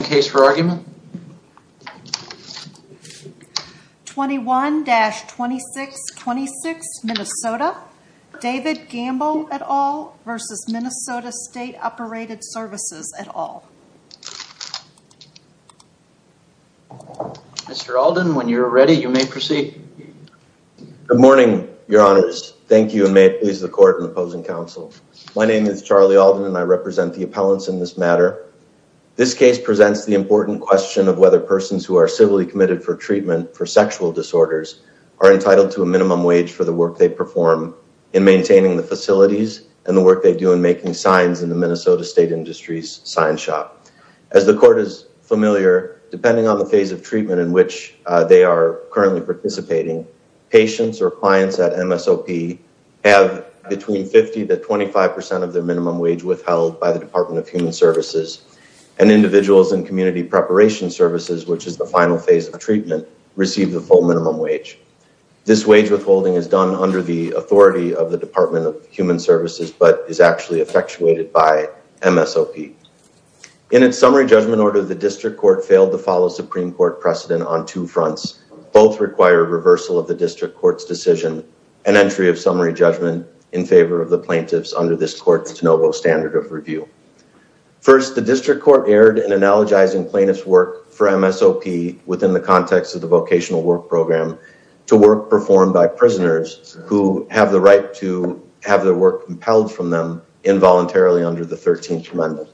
Good morning, your honors. Thank you, and may it please the court and opposing counsel. My name is Charlie Alden, and I represent the appellants in this matter. This case presents the important question of whether persons who are civilly committed for treatment for sexual disorders are entitled to a minimum wage for the work they perform in maintaining the facilities and the work they do in making signs in the Minnesota State Industries sign shop. As the court is familiar, depending on the phase of treatment in which they are currently participating, patients or clients at MSOP have between 50 to 25 percent of their minimum wage withheld by the Department of Human Services, and individuals in community preparation services, which is the final phase of treatment, receive the full minimum wage. This wage withholding is done under the authority of the Department of Human Services, but is actually effectuated by MSOP. In its summary judgment order, the district court failed to follow Supreme Court precedent on two fronts. Both require reversal of the district court's decision and entry of summary judgment in favor of the plaintiffs under this court's de novo standard of review. First, the district court erred in analogizing plaintiffs' work for MSOP within the context of the vocational work program to work performed by prisoners who have the right to have their work compelled from them involuntarily under the 13th Amendment.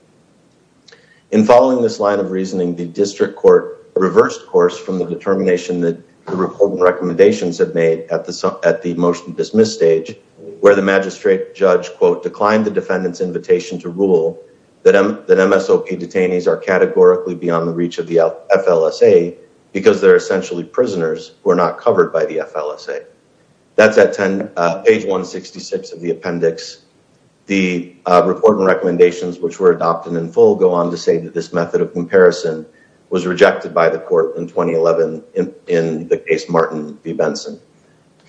In following this line of reasoning, the district court reversed course from the determination that recommendations had made at the motion dismiss stage, where the magistrate judge, quote, declined the defendant's invitation to rule that MSOP detainees are categorically beyond the reach of the FLSA because they're essentially prisoners who are not covered by the FLSA. That's at page 166 of the appendix. The report and recommendations which were adopted in full go on to say that this method of comparison was rejected by the court in 2011 in the case Martin v. Benson.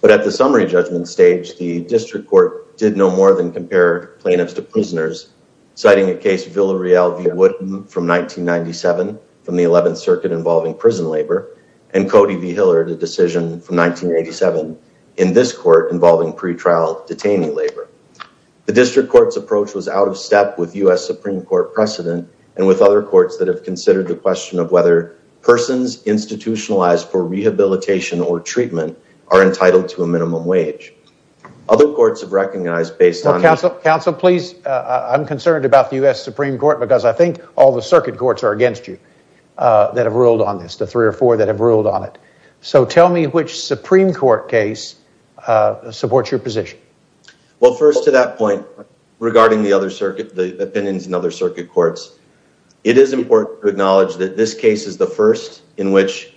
But at the summary judgment stage, the district court did no more than compare plaintiffs to prisoners, citing a case Villareal v. Woodham from 1997 from the 11th Circuit involving prison labor and Cody v. Hillard, a decision from 1987 in this court involving pretrial detainee labor. The district court's approach was out of step with U.S. Supreme Court precedent and with other courts that have considered the question of whether persons institutionalized for rehabilitation or treatment are entitled to a minimum wage. Other courts have recognized based on... Counsel, please, I'm concerned about the U.S. Supreme Court because I think all the circuit courts are against you that have ruled on this, the three or four that have ruled on it. So tell me which Supreme Court case supports your position. Well, first to that point regarding the other circuit, the opinions in other circuit courts, it is important to acknowledge that this case is the first in which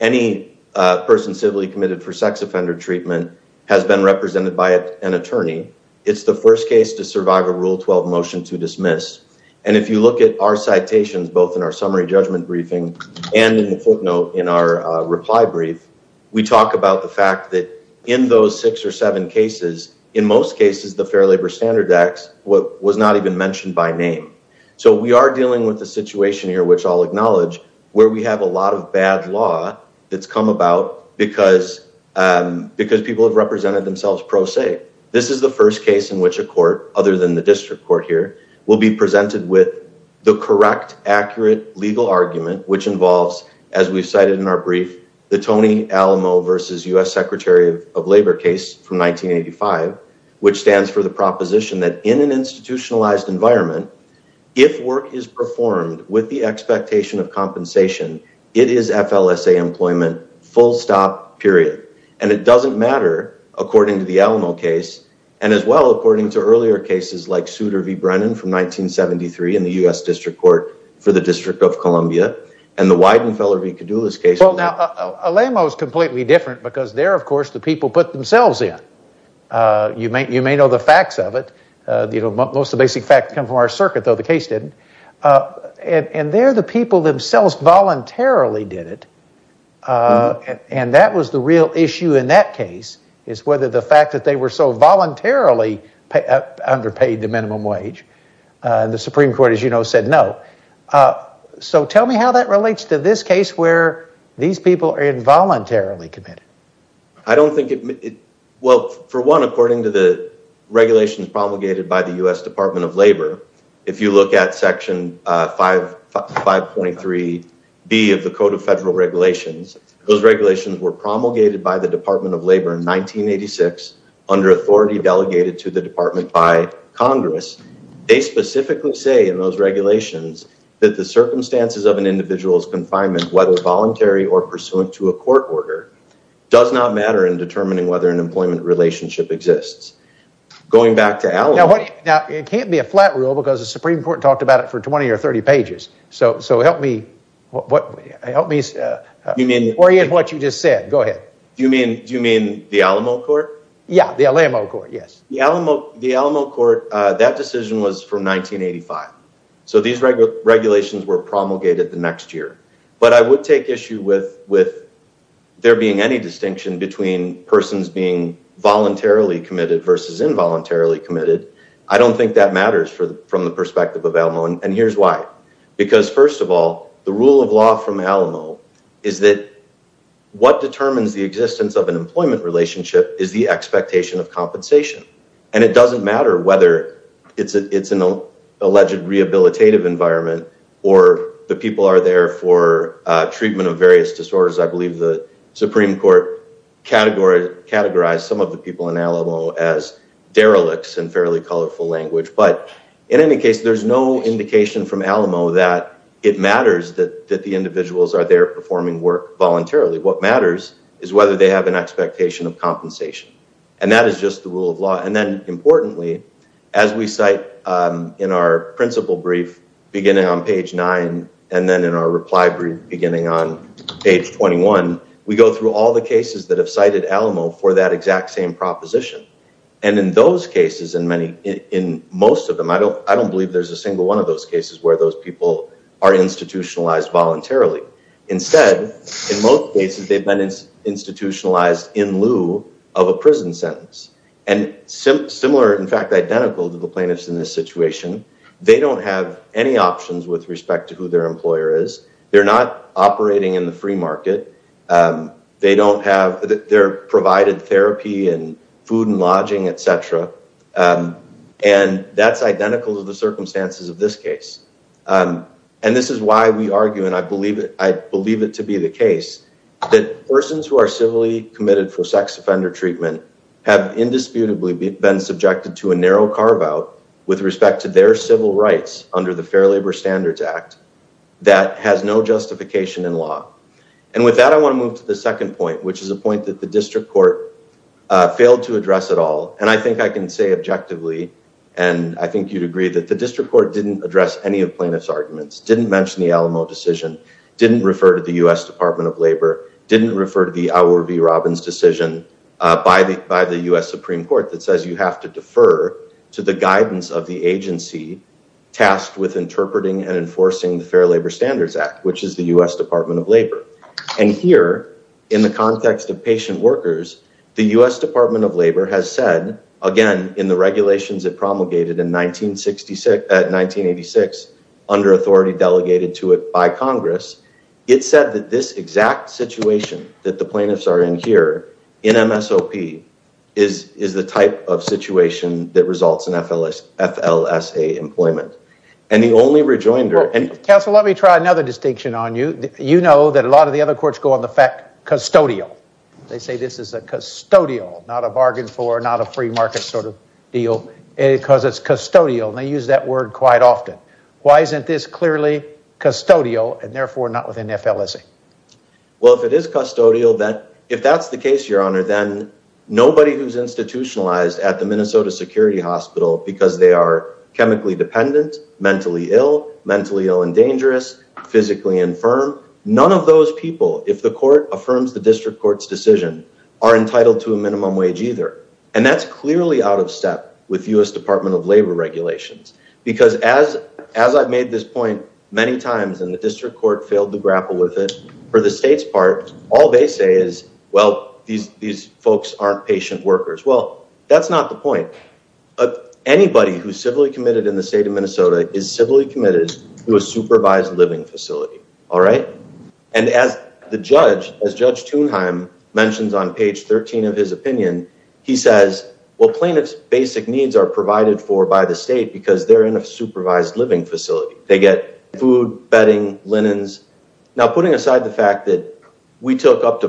any person civilly committed for sex offender treatment has been represented by an attorney. It's the first case to survive a Rule 12 motion to dismiss. And if you look at our citations, both in our summary judgment briefing and in the footnote in our reply brief, we talk about the fact that in those six or seven cases, in most cases, the Fair Labor Standard Act was not even mentioned by name. So we are dealing with a situation here, which I'll acknowledge, where we have a lot of bad law that's come about because people have represented themselves pro se. This is the first case in which a court, other than the district court here, will be presented with the correct, accurate legal argument, which involves, as we've cited in our brief, the Tony Alamo versus U.S. Secretary of Labor case from 1985, which stands for the proposition that in an institutionalized environment, if work is performed with the expectation of compensation, it is FLSA employment, full stop, period. And it doesn't matter, according to the Alamo case, and as well, according to earlier cases like Souter v. Brennan from 1973 in the U.S. District Court for the District of Columbia and the Weidenfeller v. Cadoula's case. Well, now, Alamo is completely different, because there, of course, the people put themselves in. You may know the facts of it. Most of the basic facts come from our circuit, though the case didn't. And there the people themselves voluntarily did it. And that was the real issue in that case, is whether the fact that they were so voluntarily underpaid the minimum wage. The Supreme Court, as you know, said no. So tell me how that relates to this case, where these people are involuntarily committed. I don't think it—well, for one, according to the regulations promulgated by the U.S. Department of Labor, if you look at section 5.3b of the Code of Federal Regulations, those regulations were promulgated by the Department of Labor in 1986 under authority delegated to the department by Congress. They specifically say in those regulations that the circumstances of an individual's confinement, whether voluntary or pursuant to a court order, does not matter in determining whether an employment relationship exists. Going back to Alamo— Now, it can't be a flat rule, because the Supreme Court talked about it for 20 or 30 pages. So help me what—help me orient what you just said. Go ahead. Do you mean the Alamo court? Yeah, the Alamo court, yes. The Alamo court, that decision was from 1985. So these regulations were promulgated the next year. But I would take issue with there being any distinction between persons being voluntarily committed versus involuntarily committed. I don't think that matters from the perspective of Alamo, and here's why. Because first of all, the rule of law from Alamo is that what determines the existence of an employment relationship is the expectation of compensation. And it doesn't matter whether it's an alleged rehabilitative environment or the people are there for treatment of various disorders. I believe the Supreme Court categorized some of the people in language. But in any case, there's no indication from Alamo that it matters that the individuals are there performing work voluntarily. What matters is whether they have an expectation of compensation. And that is just the rule of law. And then importantly, as we cite in our principal brief, beginning on page 9, and then in our reply brief beginning on page 21, we go through all the cases that have cited Alamo for that exact same proposition. And in those cases, in most of them, I don't believe there's a single one of those cases where those people are institutionalized voluntarily. Instead, in most cases, they've been institutionalized in lieu of a prison sentence. And similar, in fact, identical to the plaintiffs in this situation, they don't have any options with respect to who their employer is. They're not operating in the and that's identical to the circumstances of this case. And this is why we argue, and I believe it to be the case, that persons who are civilly committed for sex offender treatment have indisputably been subjected to a narrow carve out with respect to their civil rights under the Fair Labor Standards Act that has no justification in law. And with that, I want to move to the second point, which is a point that the district court failed to address at all. And I think I can say objectively, and I think you'd agree that the district court didn't address any of plaintiff's arguments, didn't mention the Alamo decision, didn't refer to the U.S. Department of Labor, didn't refer to the Auer v. Robbins decision by the U.S. Supreme Court that says you have to defer to the guidance of the agency tasked with interpreting and enforcing the Fair Labor Standards Act, which is the U.S. Department of Labor. And here, in the context of patient workers, the U.S. Department of Labor has said, again, in the regulations it promulgated in 1986, under authority delegated to it by Congress, it said that this exact situation that the plaintiffs are in here, in MSOP, is the type of situation that results in FLSA employment. And the only rejoinder... Well, counsel, let me try another distinction on you. You know that a lot of the other courts go custodial. They say this is a custodial, not a bargain for, not a free market sort of deal, because it's custodial. And they use that word quite often. Why isn't this clearly custodial and therefore not within FLSA? Well, if it is custodial, if that's the case, Your Honor, then nobody who's institutionalized at the Minnesota Security Hospital because they are chemically dependent, mentally ill, mentally ill and dangerous, physically infirm, none of those people, if the court affirms the district court's decision, are entitled to a minimum wage either. And that's clearly out of step with U.S. Department of Labor regulations. Because as I've made this point many times and the district court failed to grapple with it, for the state's part, all they say is, well, these folks aren't patient workers. Well, that's not the point. Anybody who's civilly committed in the state of Minnesota is civilly committed to a supervised living facility, all right? And as the judge, as Judge Thunheim mentions on page 13 of his opinion, he says, well, plaintiff's basic needs are provided for by the state because they're in a supervised living facility. They get food, bedding, linens. Now, putting aside the fact that we took up to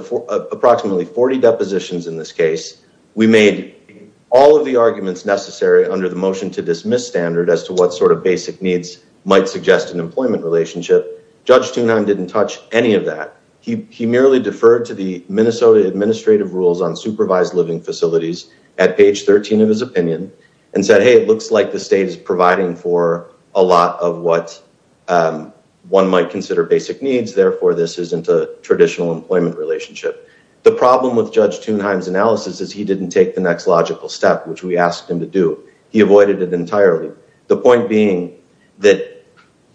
approximately 40 depositions in this case, we made all of the arguments necessary under the motion to dismiss standard as to what sort of basic needs might suggest an employment relationship. Judge Thunheim didn't touch any of that. He merely deferred to the Minnesota administrative rules on supervised living facilities at page 13 of his opinion and said, hey, it looks like the state is providing for a lot of what one might consider basic needs. Therefore, this isn't a traditional employment relationship. The problem with Judge Thunheim's analysis is he didn't take the next logical step, which we asked him to do. He avoided it entirely. The point being that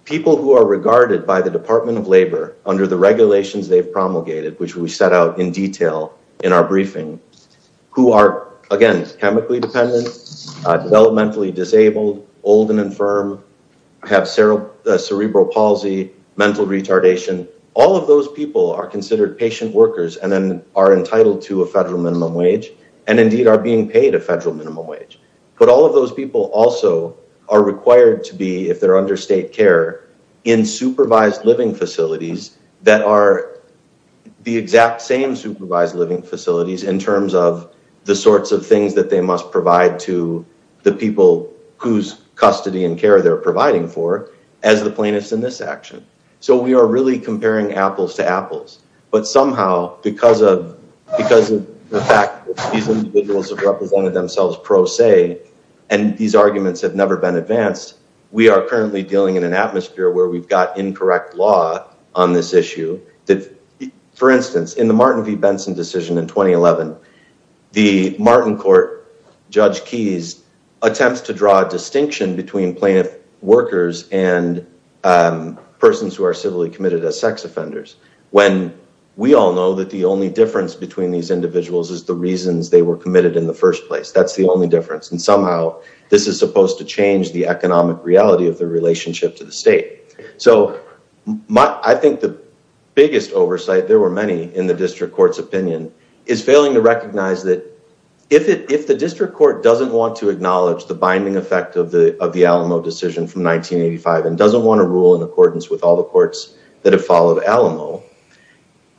people who are regarded by the Department of Labor under the regulations they've promulgated, which we set out in detail in our briefing, who are, again, chemically dependent, developmentally disabled, old and infirm, have cerebral palsy, mental retardation, all of those people are considered patient workers and then are entitled to a federal minimum wage and indeed are being paid a federal minimum wage. But all of those people also are required to be, if they're under state care, in supervised living facilities that are the exact same supervised living facilities in terms of the sorts of things that they must provide to the people whose custody and care they're providing for as the plaintiffs in this action. So we are really comparing apples to apples. But somehow, because of the fact that these individuals have represented themselves pro se and these arguments have never been advanced, we are currently dealing in an atmosphere where we've got incorrect law on this issue. For instance, in the Martin v. Benson decision in 2011, the Martin court, Judge Keyes, attempts to draw a distinction between plaintiff workers and persons who are civilly committed as sex offenders when we all know that the only difference between these individuals is the reasons they were committed in the first place. That's the only difference. And somehow, this is supposed to change the economic reality of the relationship to the state. So I think the biggest oversight, there were many in the district court's opinion, is failing to recognize that if the district court doesn't want to acknowledge the binding effect of the Alamo decision from 1985 and doesn't want to rule in accordance with all the courts that have followed Alamo,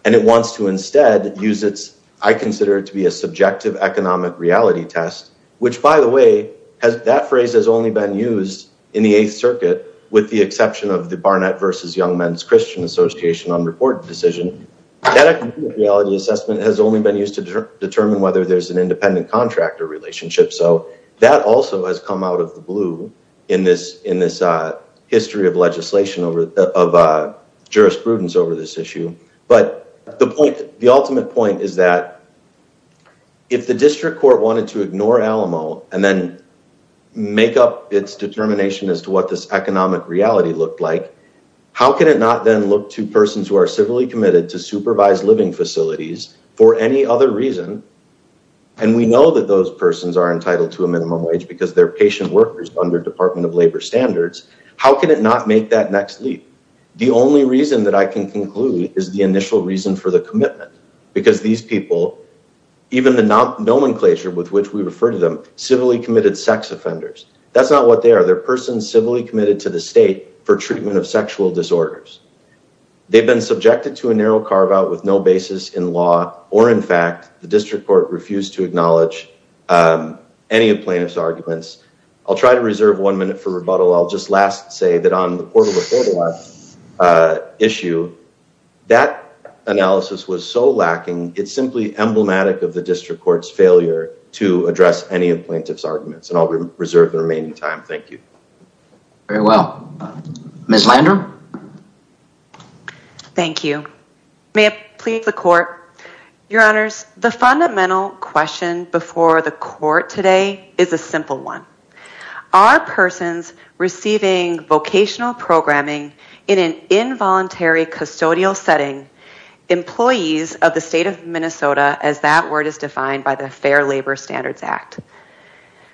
and it wants to instead use its, I consider it to be a subjective economic reality test, which by the way, that phrase has only been used in the Eighth Circuit with the exception of the Barnett v. Young Men's Christian Association unreported decision, that economic reality has only been used to determine whether there's an independent contractor relationship. So that also has come out of the blue in this history of legislation, of jurisprudence over this issue. But the point, the ultimate point is that if the district court wanted to ignore Alamo and then make up its determination as to what this economic reality looked like, how can it not then look to persons who are civilly committed to supervised living facilities for any other reason, and we know that those persons are entitled to a minimum wage because they're patient workers under Department of Labor standards, how can it not make that next leap? The only reason that I can conclude is the initial reason for the commitment, because these people, even the nomenclature with which we refer to them, civilly committed sex offenders, that's not what they are. They're persons civilly committed to the state for treatment of sexual disorders. They've been subjected to a narrow carve out with no basis in law, or in fact, the district court refused to acknowledge any of plaintiff's arguments. I'll try to reserve one minute for rebuttal. I'll just last say that on the portable photo op issue, that analysis was so lacking, it's simply emblematic of the district court's failure to address any of plaintiff's arguments, and I'll reserve the remaining time. Thank you. Very well. Ms. Lander? Thank you. May it please the court, your honors, the fundamental question before the court today is a simple one. Are persons receiving vocational programming in an involuntary custodial setting employees of the state of Minnesota, as that word is defined by the Fair Labor Standards Act?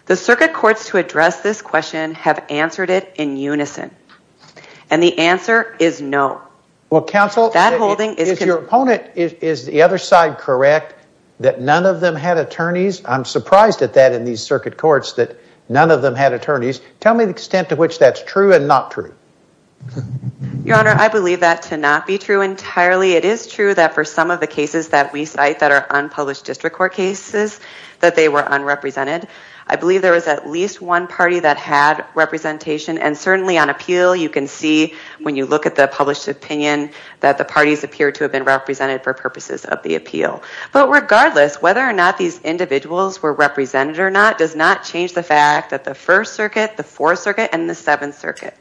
The circuit courts to address this question have answered it in unison, and the answer is no. Well, counsel, is your opponent, is the other side correct that none of them had attorneys? I'm surprised at that in these circuit courts that none of them had attorneys. Tell me the extent to which that's true and not true. Your honor, I believe that to not be true entirely. It is true that for some of the I believe there was at least one party that had representation, and certainly on appeal, you can see when you look at the published opinion that the parties appear to have been represented for purposes of the appeal. But regardless, whether or not these individuals were represented or not does not change the fact that the First Circuit, the Fourth Circuit, and the Seventh Circuit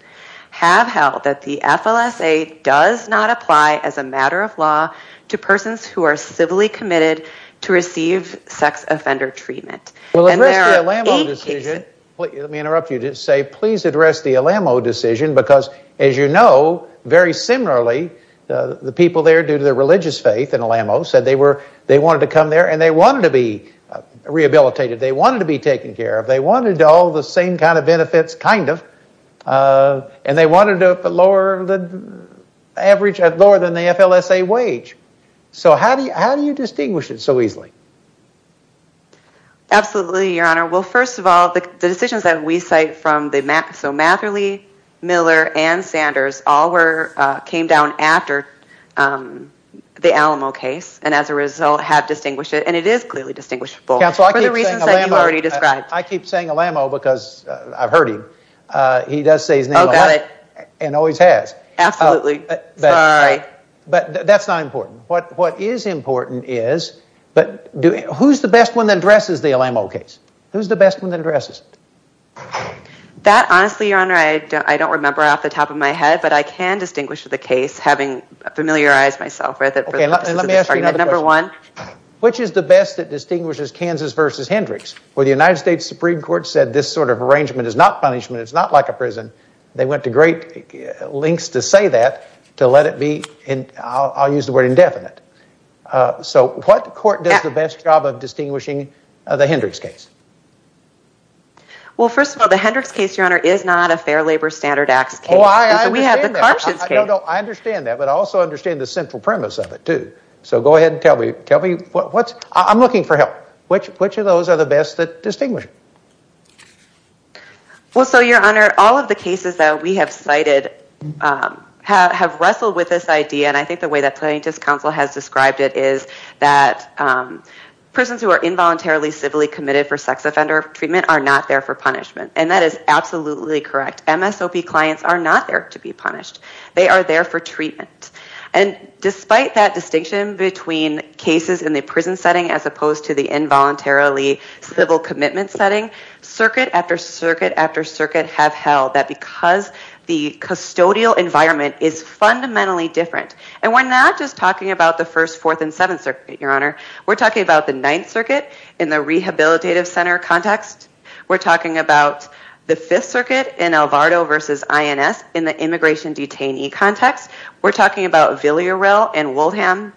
have held that the FLSA does not apply as a matter of law to persons who are civilly committed to receive sex offender treatment. Let me interrupt you to say please address the Alamo decision, because as you know, very similarly, the people there, due to their religious faith in Alamo, said they wanted to come there and they wanted to be rehabilitated. They wanted to be taken care of. They wanted all the same kind of benefits, kind So how do you distinguish it so easily? Absolutely, your honor. Well, first of all, the decisions that we cite from the Matt, so Matherly, Miller, and Sanders all were, came down after the Alamo case, and as a result have distinguished it, and it is clearly distinguishable. Counsel, I keep saying Alamo because I've heard him. He does say his name a lot and always has. Absolutely. Sorry. But that's not important. What is important is, but who's the best one that addresses the Alamo case? Who's the best one that addresses it? That, honestly, your honor, I don't remember off the top of my head, but I can distinguish the case having familiarized myself with it for the purposes of this argument, number one. Which is the best that distinguishes Kansas versus Hendricks? Well, the United States Supreme Court said this sort of arrangement is not punishment. It's not like a prison. They went to great lengths to say that, to let it be, and I'll use the word indefinite. So what court does the best job of distinguishing the Hendricks case? Well, first of all, the Hendricks case, your honor, is not a Fair Labor Standards Act case. Oh, I understand that. I understand that, but I also understand the central premise of it, too. So go ahead and tell me, tell me what's, I'm looking for help. Which, which of those are the best that distinguish? Well, so your honor, all of the cases that we have cited have, have wrestled with this idea. And I think the way that plaintiff's counsel has described it is that prisons who are involuntarily civilly committed for sex offender treatment are not there for punishment. And that is absolutely correct. MSOP clients are not there to be punished. They are there for treatment. And despite that distinction between cases in the prison setting, as opposed to the involuntarily civil commitment setting, circuit after circuit after circuit have held that because the custodial environment is fundamentally different. And we're not just talking about the first, fourth, and seventh circuit, your honor. We're talking about the ninth circuit in the rehabilitative center context. We're talking about the fifth circuit in Alvarado versus INS in the immigration detainee context. We're talking about Villareal and Wilhelm.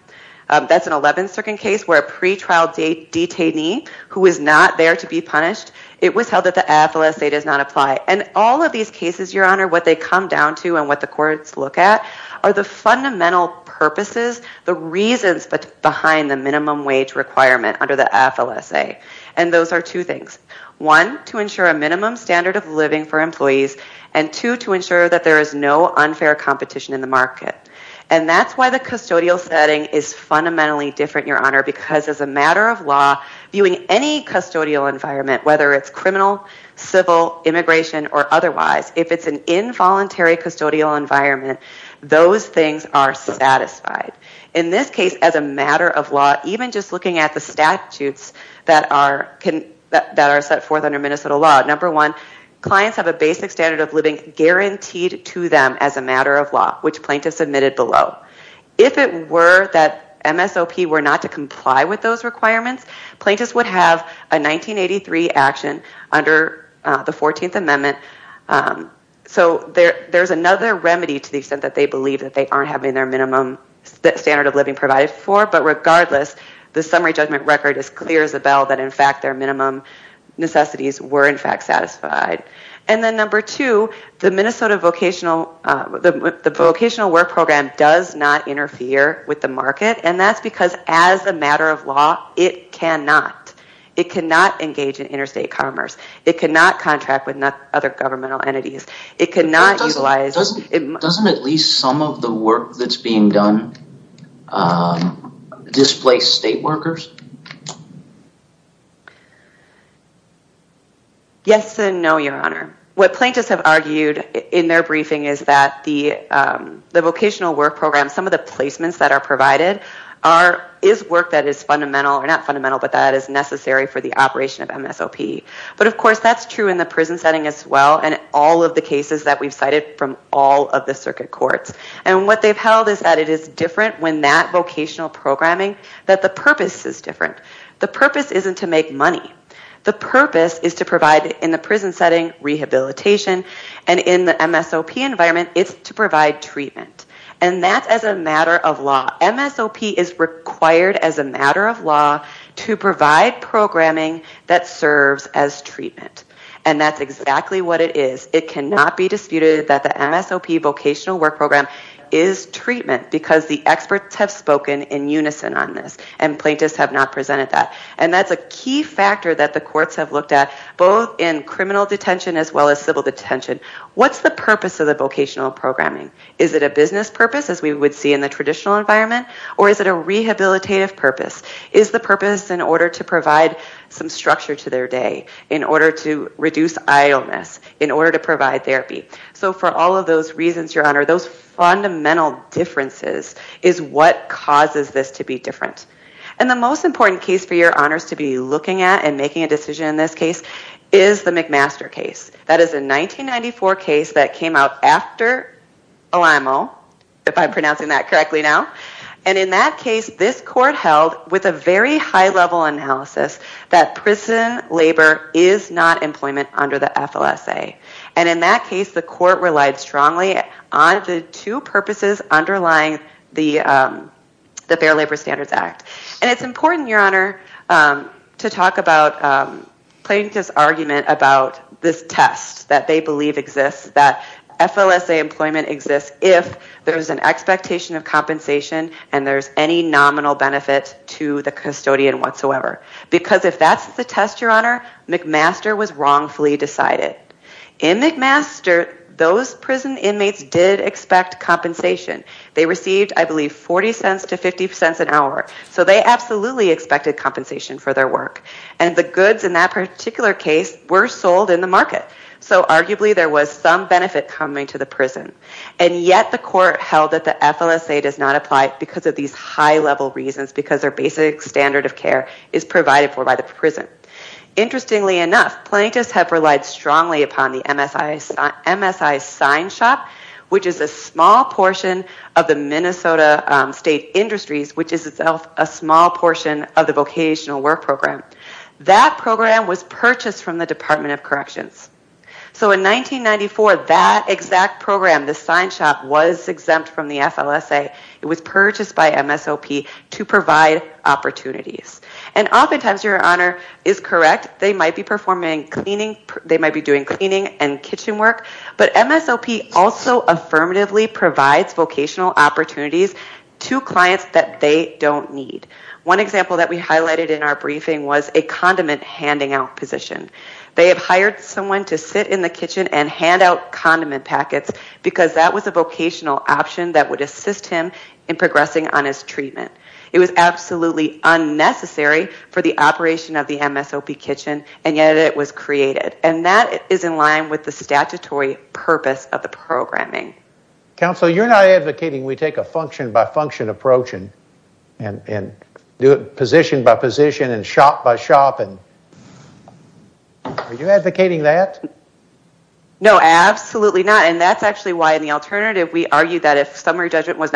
That's an 11th circuit case where a pretrial detainee who is not there to be punished, it was held that the AFLSA does not apply. And all of these cases, your honor, what they come down to and what the courts look at are the fundamental purposes, the reasons behind the minimum wage requirement under the AFLSA. And those are two things. One, to ensure a minimum standard of living for employees. And two, to ensure that there is no unfair competition in market. And that's why the custodial setting is fundamentally different, your honor, because as a matter of law, viewing any custodial environment, whether it's criminal, civil, immigration, or otherwise, if it's an involuntary custodial environment, those things are satisfied. In this case, as a matter of law, even just looking at the statutes that are set forth under Minnesota law, number one, clients have a basic standard of living guaranteed to them as a matter of law, which plaintiffs admitted below. If it were that MSOP were not to comply with those requirements, plaintiffs would have a 1983 action under the 14th Amendment. So there's another remedy to the extent that they believe that they aren't having their minimum standard of living provided for, but regardless, the summary judgment record is clear as a bell that in fact their minimum necessities were in fact satisfied. And then number two, the Minnesota vocational, the vocational work program does not interfere with the market, and that's because as a matter of law, it cannot. It cannot engage in interstate commerce. It cannot contract with other governmental entities. It cannot utilize... Doesn't at least some of the work that's being done displace state workers? Yes and no, Your Honor. What plaintiffs have argued in their briefing is that the vocational work program, some of the placements that are provided is work that is fundamental, or not fundamental, but that is necessary for the operation of MSOP. But of course, that's true in the prison setting as well, and all of the cases that we've cited from all of the circuit courts. And what they've held is that it is different when that vocational programming that the purpose is different. The purpose isn't to make money. The purpose is to provide in the prison setting rehabilitation, and in the MSOP environment, it's to provide treatment. And that's as a matter of law. MSOP is required as a matter of law to provide programming that serves as treatment, and that's exactly what it is. It cannot be disputed that the MSOP vocational work program is treatment, because the experts have spoken in unison on this, and plaintiffs have not presented that. And that's a key factor that the courts have looked at, both in criminal detention as well as civil detention. What's the purpose of the vocational programming? Is it a business purpose, as we would see in the traditional environment, or is it a rehabilitative purpose? Is the purpose in order to provide some structure to their day, in order to reduce idleness, in order to provide differences, is what causes this to be different. And the most important case for your honors to be looking at and making a decision in this case is the McMaster case. That is a 1994 case that came out after OMO, if I'm pronouncing that correctly now. And in that case, this court held with a very high-level analysis that prison labor is not employment under the FLSA. And in that case, the court relied strongly on the two purposes underlying the Fair Labor Standards Act. And it's important, your honor, to talk about plaintiff's argument about this test that they believe exists, that FLSA employment exists if there's an expectation of compensation and there's any nominal benefit to the custodian whatsoever. Because if that's the test, your honor, McMaster was wrongfully decided. In McMaster, those prison inmates did expect compensation. They received, I believe, 40 cents to 50 cents an hour. So they absolutely expected compensation for their work. And the goods in that particular case were sold in the market. So arguably, there was some benefit coming to the prison. And yet, the court held that the FLSA does not apply because of these high-level reasons, because their basic standard of care is provided for by the prison. Interestingly enough, plaintiffs have relied strongly upon the MSI Sign Shop, which is a small portion of the Minnesota State Industries, which is itself a small portion of the Vocational Work Program. That program was purchased from the Department of Corrections. So in 1994, that exact program, the Sign Shop, was exempt from the FLSA. It was purchased by MSOP to provide opportunities. And oftentimes, your honor, is correct. They might be performing cleaning. They might be doing cleaning and kitchen work. But MSOP also affirmatively provides vocational opportunities to clients that they don't need. One example that we highlighted in our briefing was a condiment handing out position. They have hired someone to sit in the kitchen and hand out condiment packets because that was a vocational option that would assist him in progressing on his treatment. It was absolutely unnecessary for the operation of the MSOP kitchen, and yet it was created. And that is in line with the statutory purpose of the programming. Counsel, you're not advocating we take a function-by-function approach and position-by-position and shop-by-shop. Are you advocating that? No, absolutely not. And that's actually why, in the alternative, we argue that if summary collective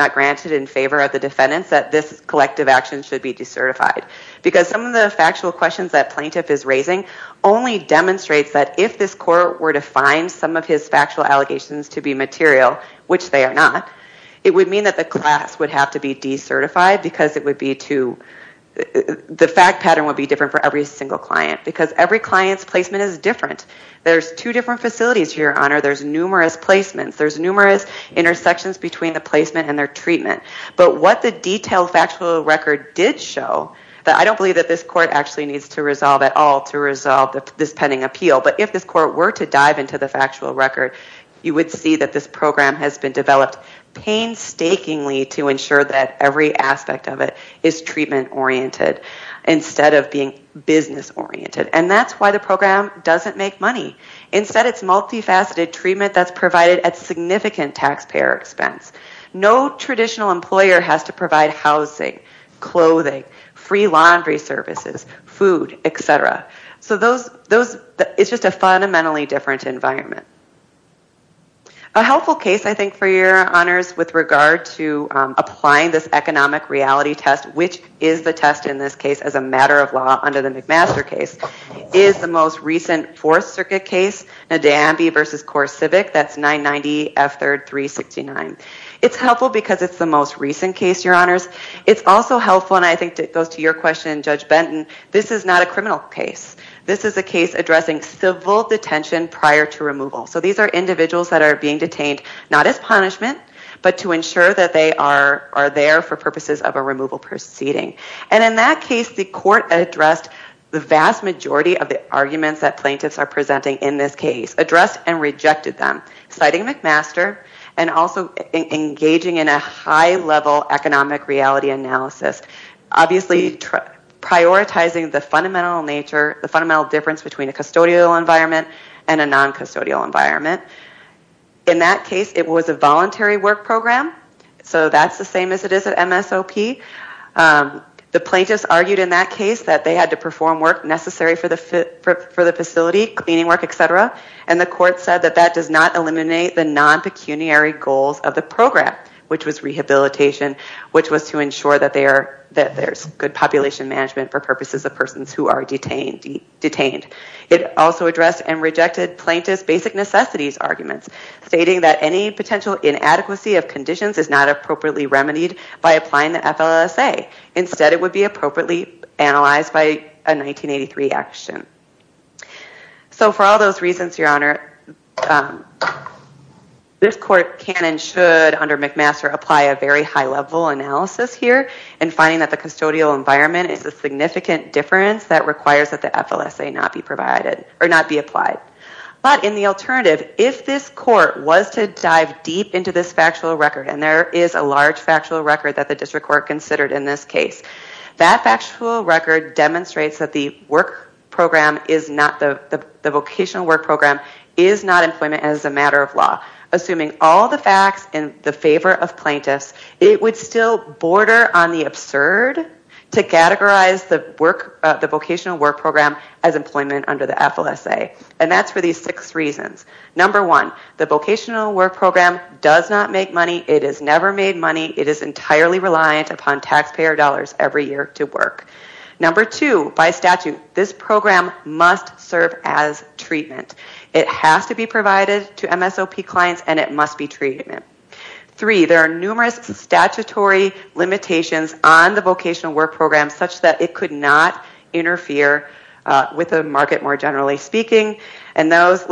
actions should be decertified. Because some of the factual questions that plaintiff is raising only demonstrates that if this court were to find some of his factual allegations to be material, which they are not, it would mean that the class would have to be decertified because the fact pattern would be different for every single client. Because every client's placement is different. There's two different facilities here, your honor. There's numerous placements. There's numerous intersections between the placement and their treatment. But what the detailed factual record did show, that I don't believe that this court actually needs to resolve at all to resolve this pending appeal, but if this court were to dive into the factual record, you would see that this program has been developed painstakingly to ensure that every aspect of it is treatment-oriented instead of being business-oriented. And that's why the program doesn't make money. Instead, it's multifaceted treatment that's provided at every point. Every single employer has to provide housing, clothing, free laundry services, food, et cetera. So those, it's just a fundamentally different environment. A helpful case, I think, for your honors with regard to applying this economic reality test, which is the test in this case as a matter of law under the McMaster case, is the most recent Fourth Circuit case, Nadambi v. CoreCivic, that's 990F3369. It's helpful because it's the most recent case, your honors. It's also helpful, and I think it goes to your question, Judge Benton, this is not a criminal case. This is a case addressing civil detention prior to removal. So these are individuals that are being detained, not as punishment, but to ensure that they are there for purposes of a removal proceeding. And in that case, the court addressed the vast majority of the arguments that plaintiffs are presenting in this case, addressed and rejected them, citing McMaster and also engaging in a high-level economic reality analysis, obviously prioritizing the fundamental nature, the fundamental difference between a custodial environment and a non-custodial environment. In that case, it was a voluntary work program, so that's the same as it is at MSOP. The plaintiffs argued in that case that they had to perform work necessary for the facility, cleaning work, etc., and the court said that that does not eliminate the non-pecuniary goals of the program, which was rehabilitation, which was to ensure that there's good population management for purposes of persons who are detained. It also addressed and rejected plaintiffs' basic necessities arguments, stating that any potential inadequacy of conditions is not appropriately remedied by applying the FLSA. Instead, it would be appropriately analyzed by a 1983 action. So for all those reasons, Your Honor, this court can and should, under McMaster, apply a very high-level analysis here in finding that the custodial environment is a significant difference that requires that the FLSA not be provided or not be applied. But in the alternative, if this court was to dive deep into this factual record, and there is a large factual record that the district court considered in this case, that factual record demonstrates that the vocational work program is not employment as a matter of law. Assuming all the facts in the favor of plaintiffs, it would still border on the absurd to categorize the vocational work program as employment under the FLSA. And that's for these six reasons. Number one, the vocational work program does not make money, it is never made money, it is entirely reliant upon taxpayer dollars every year to work. Number two, by statute, this program must serve as treatment. It has to be provided to MSOP clients, and it must be treatment. Three, there are numerous statutory limitations on the vocational work program such that it could not interfere with the market more generally speaking, and those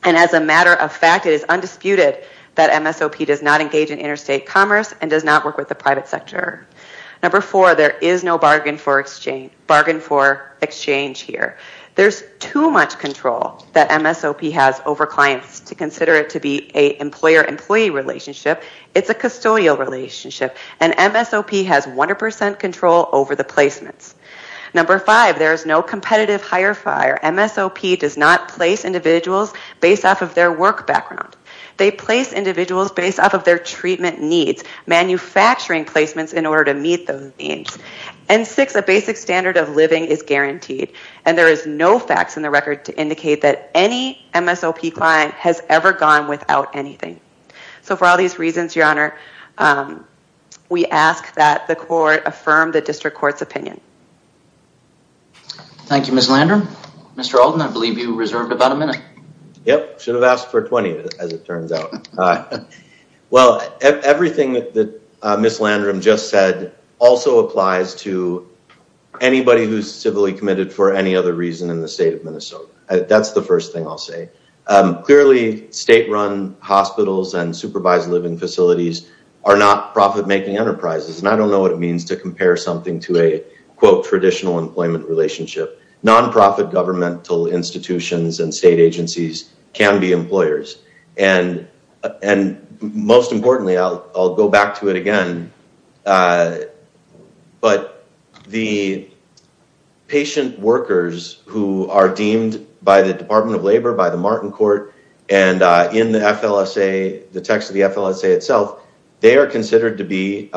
as a matter of fact, it is undisputed that MSOP does not engage in interstate commerce and does not work with the private sector. Number four, there is no bargain for exchange here. There's too much control that MSOP has over clients to consider it to be a employer-employee relationship, it's a custodial relationship, and MSOP has 100% control over the placements. Number five, there is no competitive hire fire. MSOP does not place individuals based off of their work background. They place individuals based off of their treatment needs, manufacturing placements in order to meet those needs. And six, a basic standard of living is guaranteed, and there is no facts in the record to indicate that any MSOP client has ever gone without anything. So for all these reasons, your honor, we ask that the court affirm the district court's opinion. Thank you, Ms. Landrum. Mr. Olden, I believe you reserved about a minute. Yep, should have asked for 20 as it turns out. Well, everything that Ms. Landrum just said also applies to anybody who's civilly committed for any other reason in the state of Minnesota. That's the first thing I'll say. Clearly, state-run hospitals and supervised living facilities are not profit-making enterprises, and I don't know what it means to compare something to a traditional employment relationship. Nonprofit governmental institutions and state agencies can be employers. And most importantly, I'll go back to it again, but the patient workers who are deemed by the Department of Labor, by the Martin Court, and in the text of the FLSA itself, they are considered to be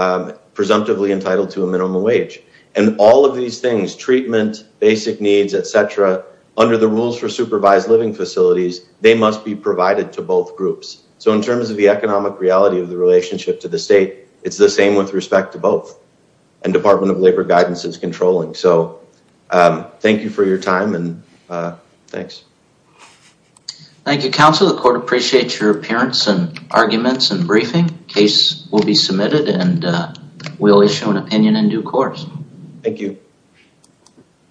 presumptively entitled to a minimum wage. And all of these things, treatment, basic needs, et cetera, under the rules for supervised living facilities, they must be provided to both groups. So in terms of the respect to both, and Department of Labor guidance is controlling. So thank you for your time and thanks. Thank you, counsel. The court appreciates your appearance and arguments and briefing. Case will be submitted and we'll issue an opinion in due course. Thank you.